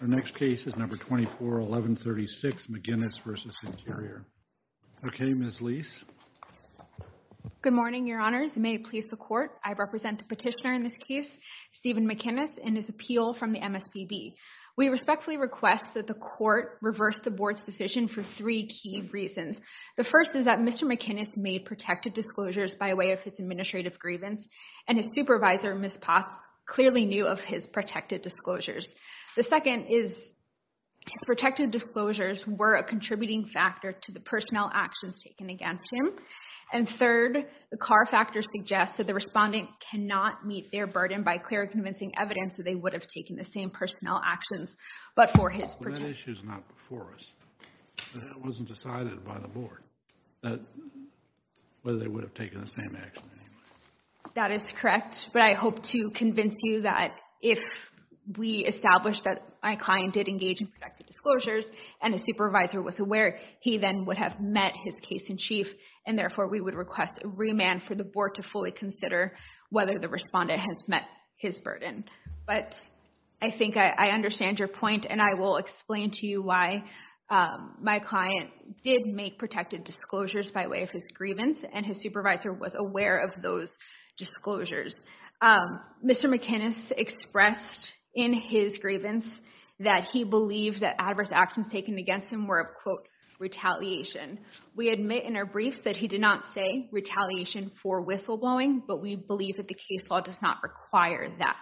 The next case is number 241136 McInnis v. Interior. Okay, Ms. Leis. Good morning, your honors. May it please the court, I represent the petitioner in this case, Stephen McInnis, and his appeal from the MSPB. We respectfully request that the court reverse the board's decision for three key reasons. The first is that Mr. McInnis made protected disclosures by way of his administrative grievance, and his supervisor, Ms. Potts, clearly knew of his protected disclosures. The second is his protected disclosures were a contributing factor to the personnel actions taken against him. And third, the Carr factor suggests that the respondent cannot meet their burden by clearly convincing evidence that they would have taken the same personnel actions, but for his protection. That issue is not before us. It wasn't decided by the board whether they would have taken the same action. That is correct, but I hope to convince you that if we established that my client did engage in protected disclosures, and his supervisor was aware, he then would have met his case in chief, and therefore we would request a remand for the board to fully consider whether the respondent has met his burden. But I think I understand your point, and I will explain to you why my client did make protected disclosures by way of his grievance, and his supervisor was aware of those disclosures. Mr. McInnis expressed in his grievance that he believed that adverse actions taken against him were, quote, retaliation. We admit in our briefs that he did not say retaliation for whistleblowing, but we believe that the case law does not require that.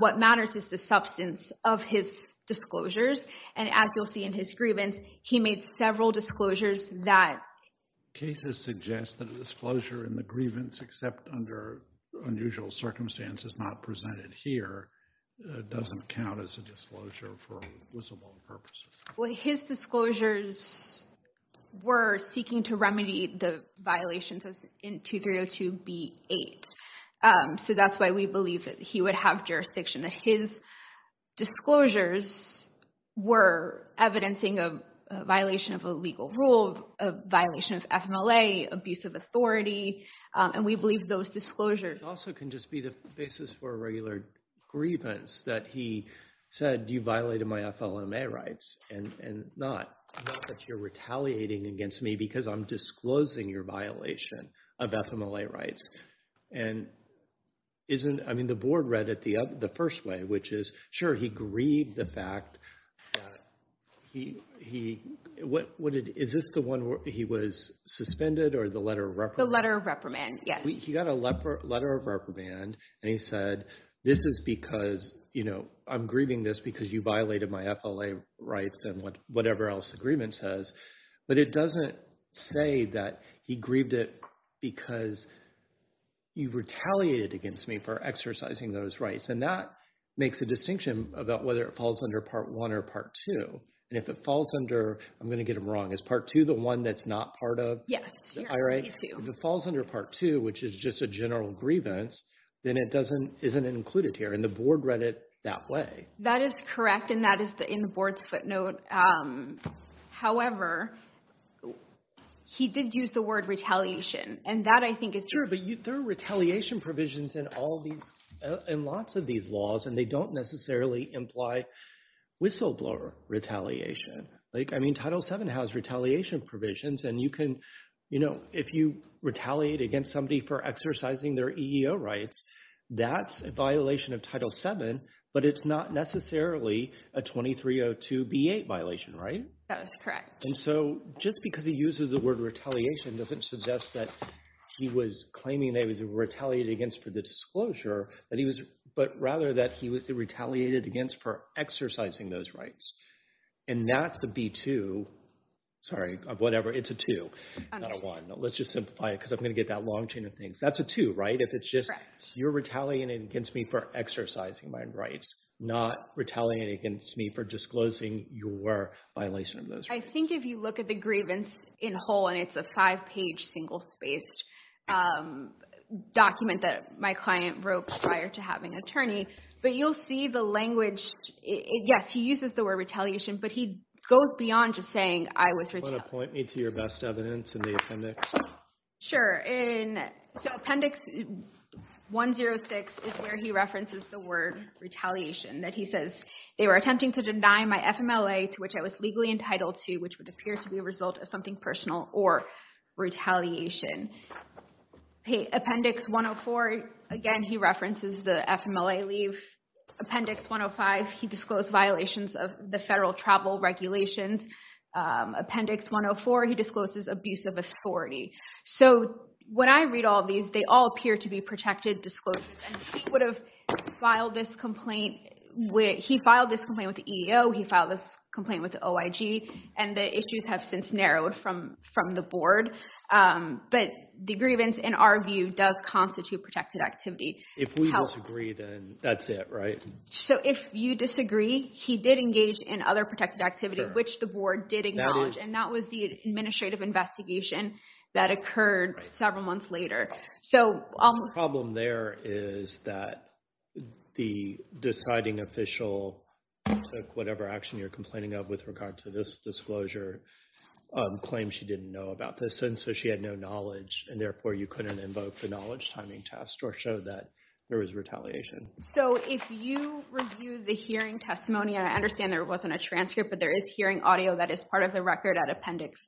What matters is the substance of his disclosures, and as you'll see in his grievance, he made several disclosures that... Cases suggest that a disclosure in the grievance, except under unusual circumstances not presented here, doesn't count as a disclosure for whistleblowing purposes. Well, his disclosures were seeking to remedy the violations in 2302b-8, so that's why we believe that he would have jurisdiction, that his disclosures were evidencing a violation of a legal rule, a violation of FMLA, abuse of authority, and we believe those disclosures... Also can just be the basis for a regular grievance that he said, you violated my FLMA rights, and not that you're retaliating against me because I'm disclosing your violation of FMLA rights. And isn't... I mean, the board read it the first way, which is, sure, he grieved the fact that he... Is this the one where he was suspended or the letter of reprimand? The letter of reprimand, yes. He got a letter of reprimand, and he said, this is because I'm grieving this because you violated my FLMA rights and whatever else the agreement says, but it doesn't say that he grieved it because you retaliated against me for exercising those rights. And that makes a distinction about whether it falls under Part 1 or Part 2. And if it falls under... I'm going to get them wrong. Is Part 2 the one that's not part of the IRA? Yes, it's part of Part 2. If it falls under Part 2, which is just a general grievance, then it isn't included here, and the board read it that way. That is correct, and that is in the board's footnote. However, he did use the word retaliation, and that, I think, is true. Sure, but there are retaliation provisions in lots of these laws, and they don't necessarily imply whistleblower retaliation. I mean, Title VII has retaliation provisions, and if you retaliate against somebody for exercising their EEO rights, that's a violation of Title VII, but it's not necessarily a 2302b8 violation, right? That is correct. And so, just because he uses the word retaliation doesn't suggest that he was claiming that he was retaliated against for the disclosure, but rather that he was retaliated against for exercising those rights. And that's a B2, sorry, whatever, it's a 2, not a 1. Let's just simplify it because I'm going to get that long chain of things. That's a 2, right? If it's just, you're retaliating against me for exercising my rights, not retaliating against me for disclosing your violation of those rights. I think if you look at the grievance in whole, and it's a five-page, single-spaced document that my client wrote prior to having an attorney, but you'll see the language. Yes, he uses the word retaliation, but he goes beyond just saying, I was retaliated. Do you want to point me to your best evidence in the appendix? Sure. So, appendix 106 is where he references the word retaliation, that he says, they were attempting to deny my FMLA to which I was legally entitled to, which would appear to be a result of something personal or retaliation. Appendix 104, again, he references the FMLA leave. Appendix 105, he disclosed violations of the federal travel regulations. Appendix 104, he discloses abuse of authority. So, when I read all these, they all appear to be protected disclosures. He filed this complaint with the EEO, he filed this complaint with the OIG, and the issues have since narrowed from the board. But the grievance, in our view, does constitute protected activity. If we disagree, then that's it, right? So, if you disagree, he did engage in other protected activity, which the board did acknowledge, and that was the administrative investigation that occurred several months later. The problem there is that the deciding official took whatever action you're complaining of with regard to this disclosure, claimed she didn't know about this, and so she had no knowledge, and therefore you couldn't invoke the knowledge timing test or show that there was retaliation. So, if you review the hearing testimony, and I understand there wasn't a transcript, but there is hearing audio that is part of the record at Appendix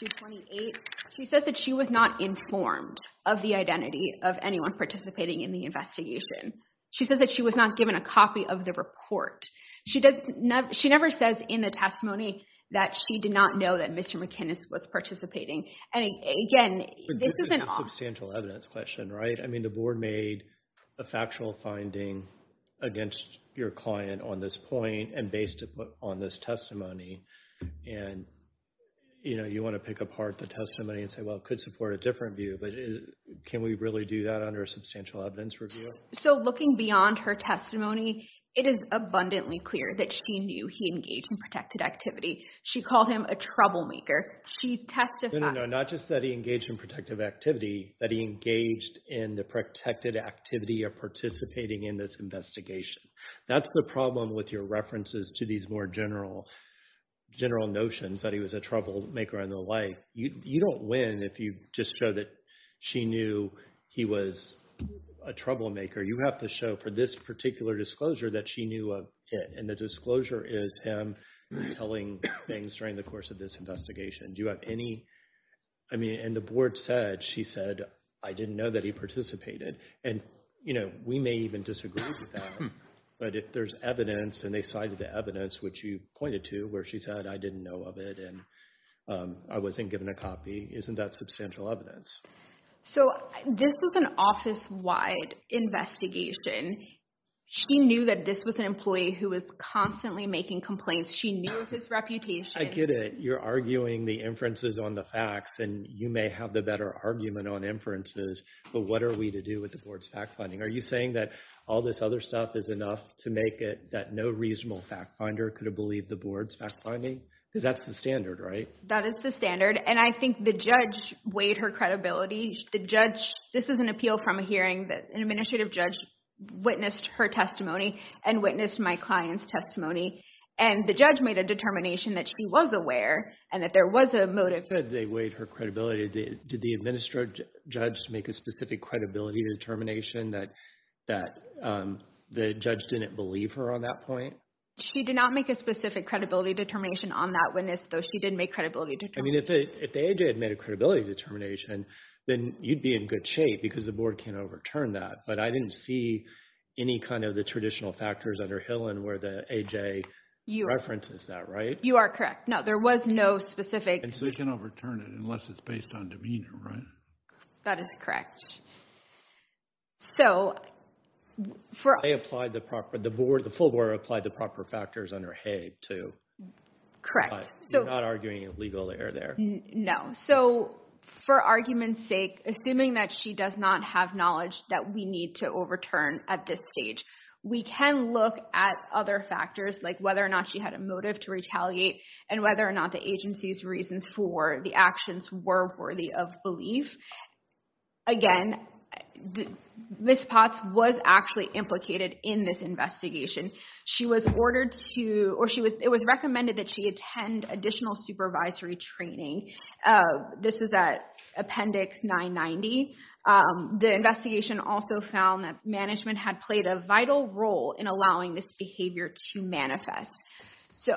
228. She says that she was not informed of the identity of anyone participating in the investigation. She says that she was not given a copy of the report. She never says in the testimony that she did not know that Mr. McInnis was participating. And again, this is an... I mean, the board made a factual finding against your client on this point and based on this testimony, and you want to pick apart the testimony and say, well, it could support a different view, but can we really do that under a substantial evidence review? So, looking beyond her testimony, it is abundantly clear that she knew he engaged in protected activity. She called him a troublemaker. She testified... Not just that he engaged in protective activity, but he engaged in the protected activity of participating in this investigation. That's the problem with your references to these more general notions that he was a troublemaker and the like. You don't win if you just show that she knew he was a troublemaker. You have to show for this particular disclosure that she knew of it, and the disclosure is him telling things during the course of this investigation. Do you have any... I mean, and the board said, she said, I didn't know that he participated. And we may even disagree with that, but if there's evidence and they cited the evidence, which you pointed to, where she said, I didn't know of it and I wasn't given a copy, isn't that substantial evidence? So, this was an office-wide investigation. She knew that this was an employee who was constantly making complaints. She knew of his inferences on the facts, and you may have the better argument on inferences, but what are we to do with the board's fact-finding? Are you saying that all this other stuff is enough to make it that no reasonable fact-finder could have believed the board's fact-finding? Because that's the standard, right? That is the standard, and I think the judge weighed her credibility. The judge... This is an appeal from a hearing that an administrative judge witnessed her testimony and witnessed my client's testimony, and the judge made a determination that she was aware and that there was a motive. You said they weighed her credibility. Did the administrative judge make a specific credibility determination that the judge didn't believe her on that point? She did not make a specific credibility determination on that witness, though she did make credibility determinations. I mean, if the AJ had made a credibility determination, then you'd be in good shape because the board can't overturn that, but I didn't see any kind of the traditional factors under Hill and where the AJ references that, right? You are correct. No, there was no specific... And so you can overturn it unless it's based on demeanor, right? That is correct. So, for... They applied the proper... The board, the full board applied the proper factors under Hay, too. Correct. But you're not arguing a legal error there? No. So, for argument's sake, assuming that she does not have knowledge that we need to overturn at this stage, we can look at other factors like whether or not she had a motive to retaliate and whether or not the agency's reasons for the actions were worthy of belief. Again, Ms. Potts was actually implicated in this investigation. She was ordered to... It was recommended that she attend additional supervisory training. This is at Appendix 990. The investigation also found that management had played a vital role in allowing this behavior to manifest. So,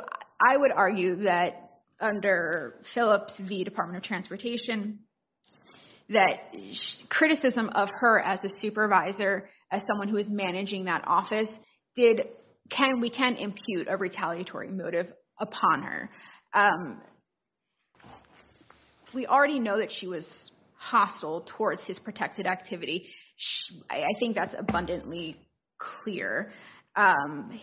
I would argue that under Phillips v. Department of Transportation, that criticism of her as a supervisor, as someone who is managing that office, we can impute a retaliatory motive upon her. If we already know that she was hostile towards his protected activity, I think that's abundantly clear.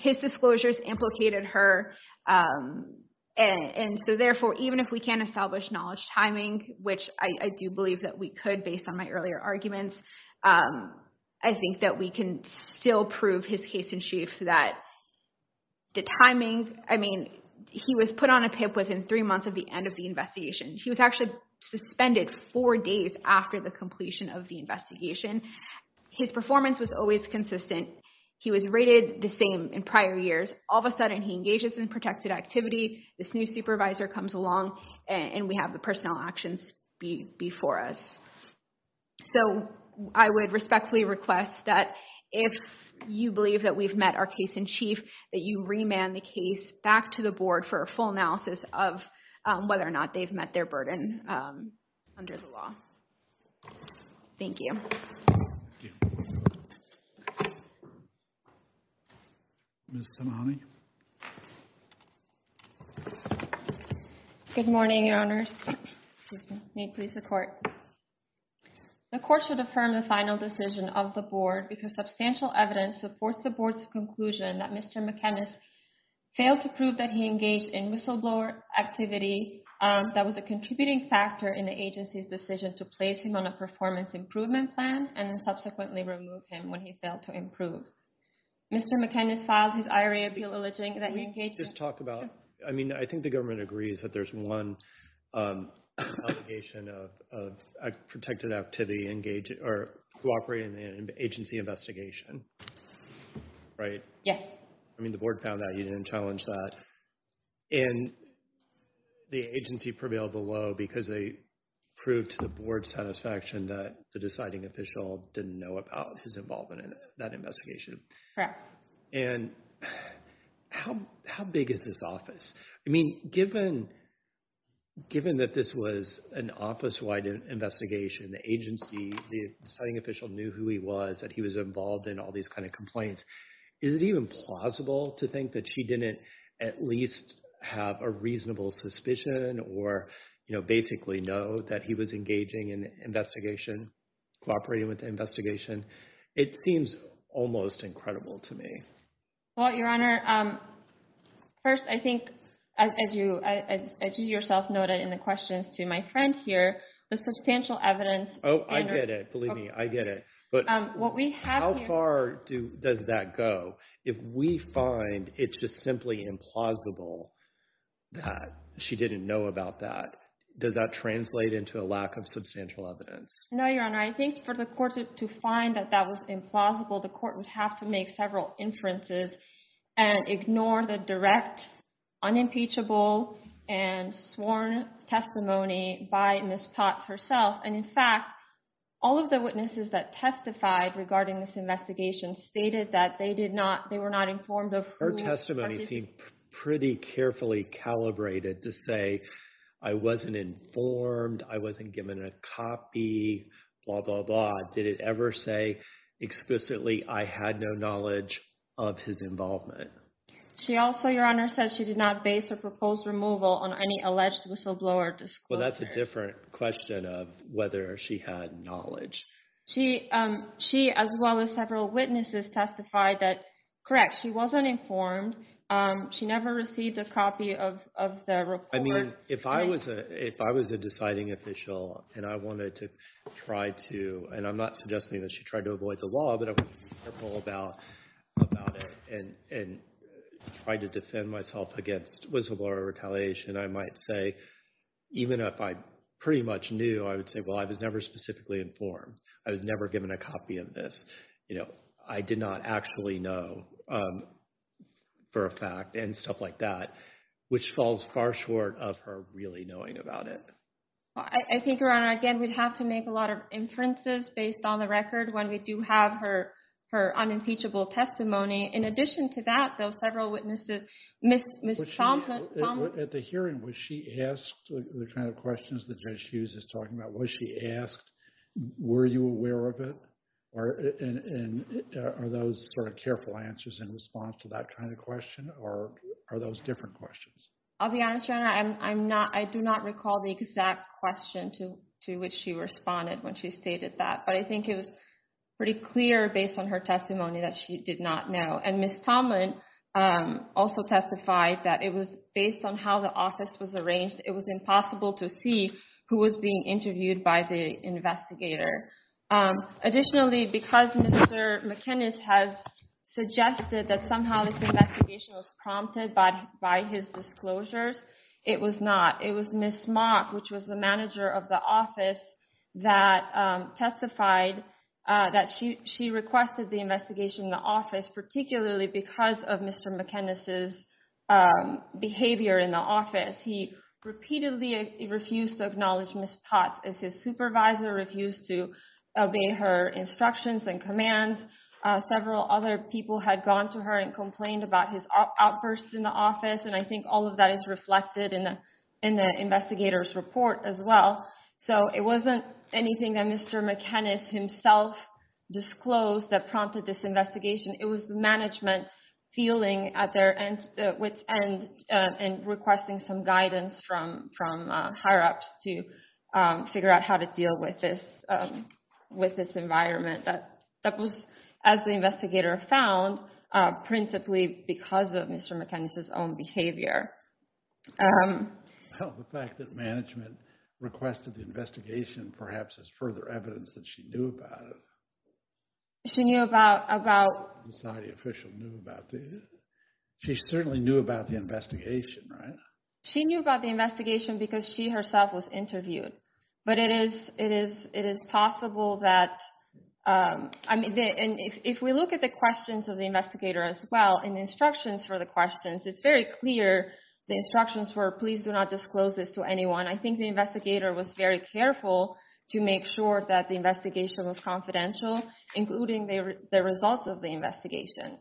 His disclosures implicated her. And so, therefore, even if we can't establish knowledge timing, which I do believe that we could based on my earlier arguments, I think that we can still prove his haste and sheaf that the timing... I mean, he was put on a PIP within three months of the end of the investigation. He was actually suspended four days after the completion of the investigation. His performance was always consistent. He was rated the same in prior years. All of a sudden, he engages in protected activity. This new supervisor comes along and we the personnel actions before us. So, I would respectfully request that if you believe that we've met our case-in-chief, that you remand the case back to the board for a full analysis of whether or not they've met their burden under the law. Thank you. Ms. Tamani? Good morning, Your Honors. May it please the court. The court should affirm the final decision of the board because substantial evidence supports the board's conclusion that Mr. McKenna failed to prove that he engaged in whistleblower activity that was a contributing factor in the agency's decision to place him on a performance improvement plan and then subsequently remove him when he failed to improve. Mr. McKenna's filed his IRA appeal last week, and he has not yet been released. I think the government agrees that there's one obligation of protected activity engaged or cooperating in the agency investigation, right? Yes. I mean, the board found that he didn't challenge that, and the agency prevailed below because they proved to the board's satisfaction that the deciding official didn't know about his involvement in that investigation. And how big is this office? I mean, given that this was an office-wide investigation, the agency, the deciding official knew who he was, that he was involved in all these kind of complaints. Is it even plausible to think that she didn't at least have a reasonable suspicion or basically know that he was engaging in the investigation, cooperating with the almost incredible to me? Well, Your Honor, first, I think, as you yourself noted in the questions to my friend here, there's substantial evidence. Oh, I get it. Believe me, I get it. But how far does that go if we find it's just simply implausible that she didn't know about that? Does that translate into a lack of substantial evidence? No, Your Honor. I think for the court to find that that was implausible, the court would have to make several inferences and ignore the direct, unimpeachable, and sworn testimony by Ms. Potts herself. And in fact, all of the witnesses that testified regarding this investigation stated that they were not informed of who- Her testimony seemed pretty carefully calibrated to say, I wasn't informed, I wasn't given a copy, blah, blah, blah. Did it ever say explicitly I had no knowledge of his involvement? She also, Your Honor, said she did not base her proposed removal on any alleged whistleblower disclosure. Well, that's a different question of whether she had knowledge. She, as well as several witnesses, testified that, correct, she wasn't informed. She never received a copy of the report. I mean, if I was a deciding official and I wanted to try to, and I'm not suggesting that she tried to avoid the law, but I wanted to be careful about it and try to defend myself against whistleblower retaliation, I might say, even if I pretty much knew, I would say, well, I was never specifically informed. I was never given a of this. I did not actually know for a fact and stuff like that, which falls far short of her really knowing about it. I think, Your Honor, again, we'd have to make a lot of inferences based on the record when we do have her unimpeachable testimony. In addition to that, though, several witnesses, Ms. Thompson- At the hearing, was she asked the kind of questions Judge Hughes is talking about? Was she asked, were you aware of it? And are those sort of careful answers in response to that kind of question, or are those different questions? I'll be honest, Your Honor. I do not recall the exact question to which she responded when she stated that, but I think it was pretty clear based on her testimony that she did not know. And Ms. Tomlin also testified that it was based on how the office was arranged. It was impossible to see who was being interviewed by the investigator. Additionally, because Mr. McInnes has suggested that somehow this investigation was prompted by his disclosures, it was not. It was Ms. Mock, which was the manager of the office, that testified that she requested the investigation in the office, particularly because of Mr. McInnes's behavior in the office. He repeatedly refused to acknowledge Ms. Potts as his supervisor, refused to obey her instructions and commands. Several other people had gone to her and complained about his outbursts in the office, and I think all of that is reflected in the investigator's report as well. So it wasn't anything that Mr. McInnes himself disclosed that prompted this investigation. It was the management feeling at their wit's end and requesting some guidance from higher-ups to figure out how to deal with this environment. That was, as the investigator found, principally because of Mr. McInnes's own behavior. Well, the fact that management requested the investigation perhaps is further evidence that she knew about it. She knew about... The society official knew about it. She certainly knew about the investigation, right? She knew about the investigation because she herself was interviewed. But it is possible that... If we look at the questions of the investigator as well and the instructions for the questions, it's very clear the instructions were please do not disclose this to anyone. I think the investigator was very careful to make sure that the investigation was confidential, including the results of the investigation.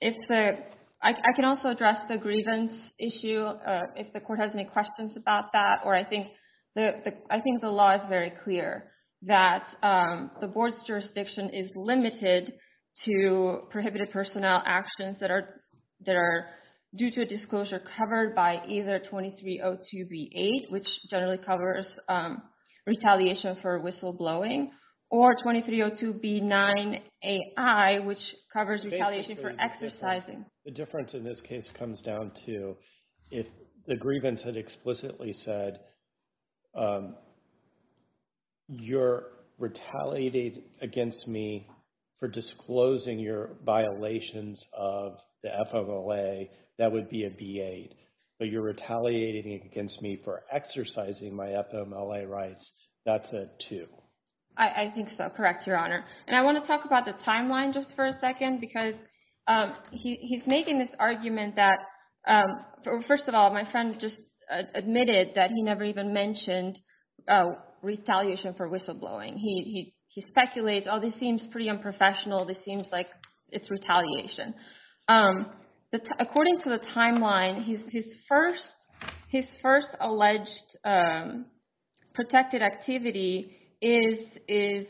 If the... I can also address the grievance issue if the court has any questions about that, or I think the law is very clear that the board's jurisdiction is limited to prohibited personnel actions that are due to a disclosure covered by either 2302B8, which generally covers retaliation for whistleblowing, or 2302B9AI, which covers retaliation for exercising. The difference in this case comes down to if the grievance had explicitly said, you're retaliating against me for disclosing your violations of the FOMLA, that would be a B8, but you're retaliating against me for exercising my FOMLA rights, that's a two. I think so. Correct, Your Honor. And I want to talk about the timeline just for a second, because he's making this argument that... First of all, my friend just admitted that he knows never even mentioned retaliation for whistleblowing. He speculates, oh, this seems pretty unprofessional, this seems like it's retaliation. According to the timeline, his first alleged protected activity is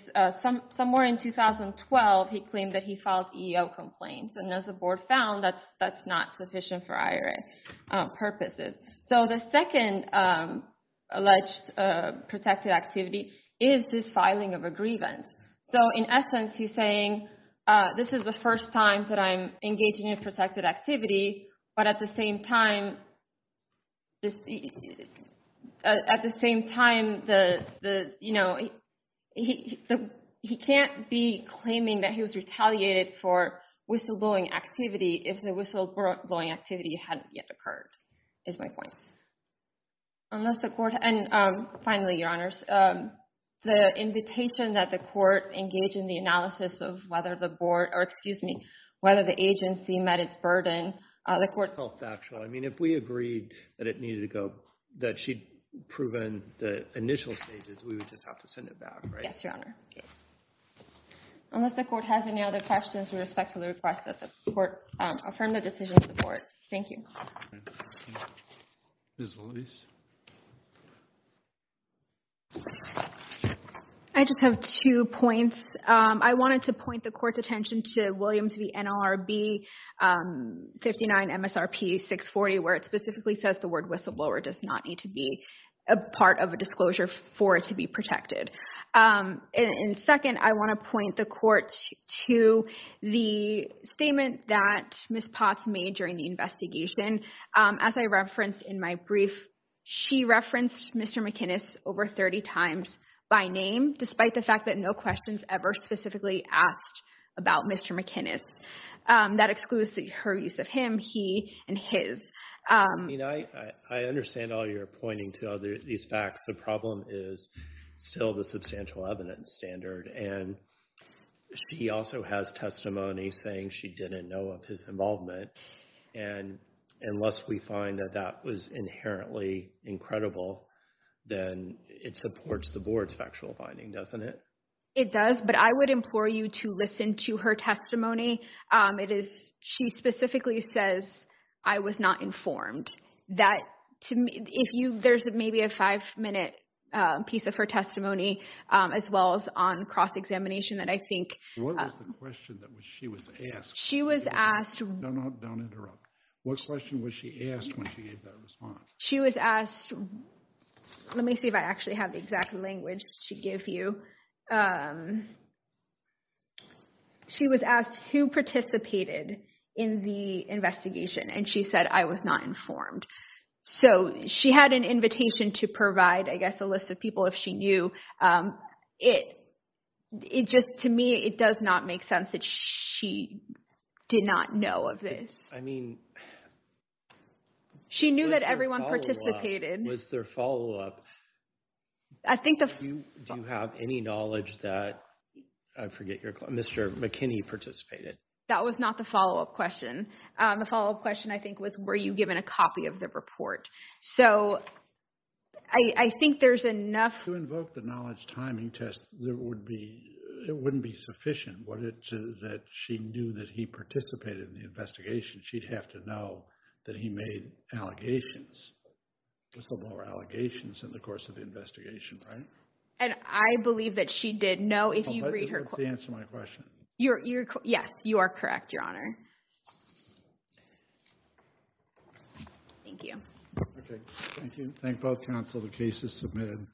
somewhere in 2012, he claimed that he filed EEO complaints, and as the board found, that's not sufficient for IRA purposes. So the second alleged protected activity is this filing of a grievance. So in essence, he's saying this is the first time that I'm engaging in protected activity, but at the same time, he can't be claiming that he was retaliated for whistleblowing activity if the whistleblowing activity hadn't yet occurred, is my point. Unless the court... And finally, Your Honors, the invitation that the court engage in the analysis of whether the board, or excuse me, whether the agency met its burden, the court... Felt factual. I mean, if we agreed that it needed to go, that she'd proven the initial stages, we would just have to send it back, right? Yes, Your Honor. Unless the court has any other questions with respect to the request that the affirmative decision of the court. Thank you. Ms. Lewis. I just have two points. I wanted to point the court's attention to Williams v. NLRB 59 MSRP 640, where it specifically says the word whistleblower does not need to be a part of a disclosure for it to be protected. And second, I want to point the court to the statement that Ms. Potts made during the investigation. As I referenced in my brief, she referenced Mr. McInnis over 30 times by name, despite the fact that no questions ever specifically asked about Mr. McInnis. That excludes her use of him, he, and his. I understand all your pointing to these facts. The problem is still the substantial evidence standard. And she also has testimony saying she didn't know of his involvement. And unless we find that that was inherently incredible, then it supports the board's factual finding, doesn't it? It does, but I would implore you to listen to her testimony. It is, she specifically says, I was not informed. That, to me, if you, there's maybe a five minute piece of her testimony, as well as on cross-examination that I think... What was the question that she was asked? She was asked... No, no, don't interrupt. What question was she asked when she gave that response? She was asked, let me see if I actually have the exact language to give you. She was asked who participated in the investigation, and she said, I was not informed. So she had an invitation to provide, I guess, a list of people if she knew. It, it just, to me, it does not make sense that she did not know of this. I mean... She knew that everyone participated. Was there follow-up? I think the... Do you have any knowledge that, I forget your, Mr. McKinney participated? That was not the follow-up question. The follow-up question, I think, was were you given a copy of the report? So, I, I think there's enough... To invoke the knowledge timing test, there would be, it wouldn't be sufficient. Would it, that she knew that he participated in the investigation, she'd have to know that he made allegations. There's still more allegations in the course of the investigation, right? And I believe that she did know if you read her... That's the answer to my question. You're, you're, yes, you are correct, your honor. Thank you. Okay, thank you. Thank both counsel. The case is submitted.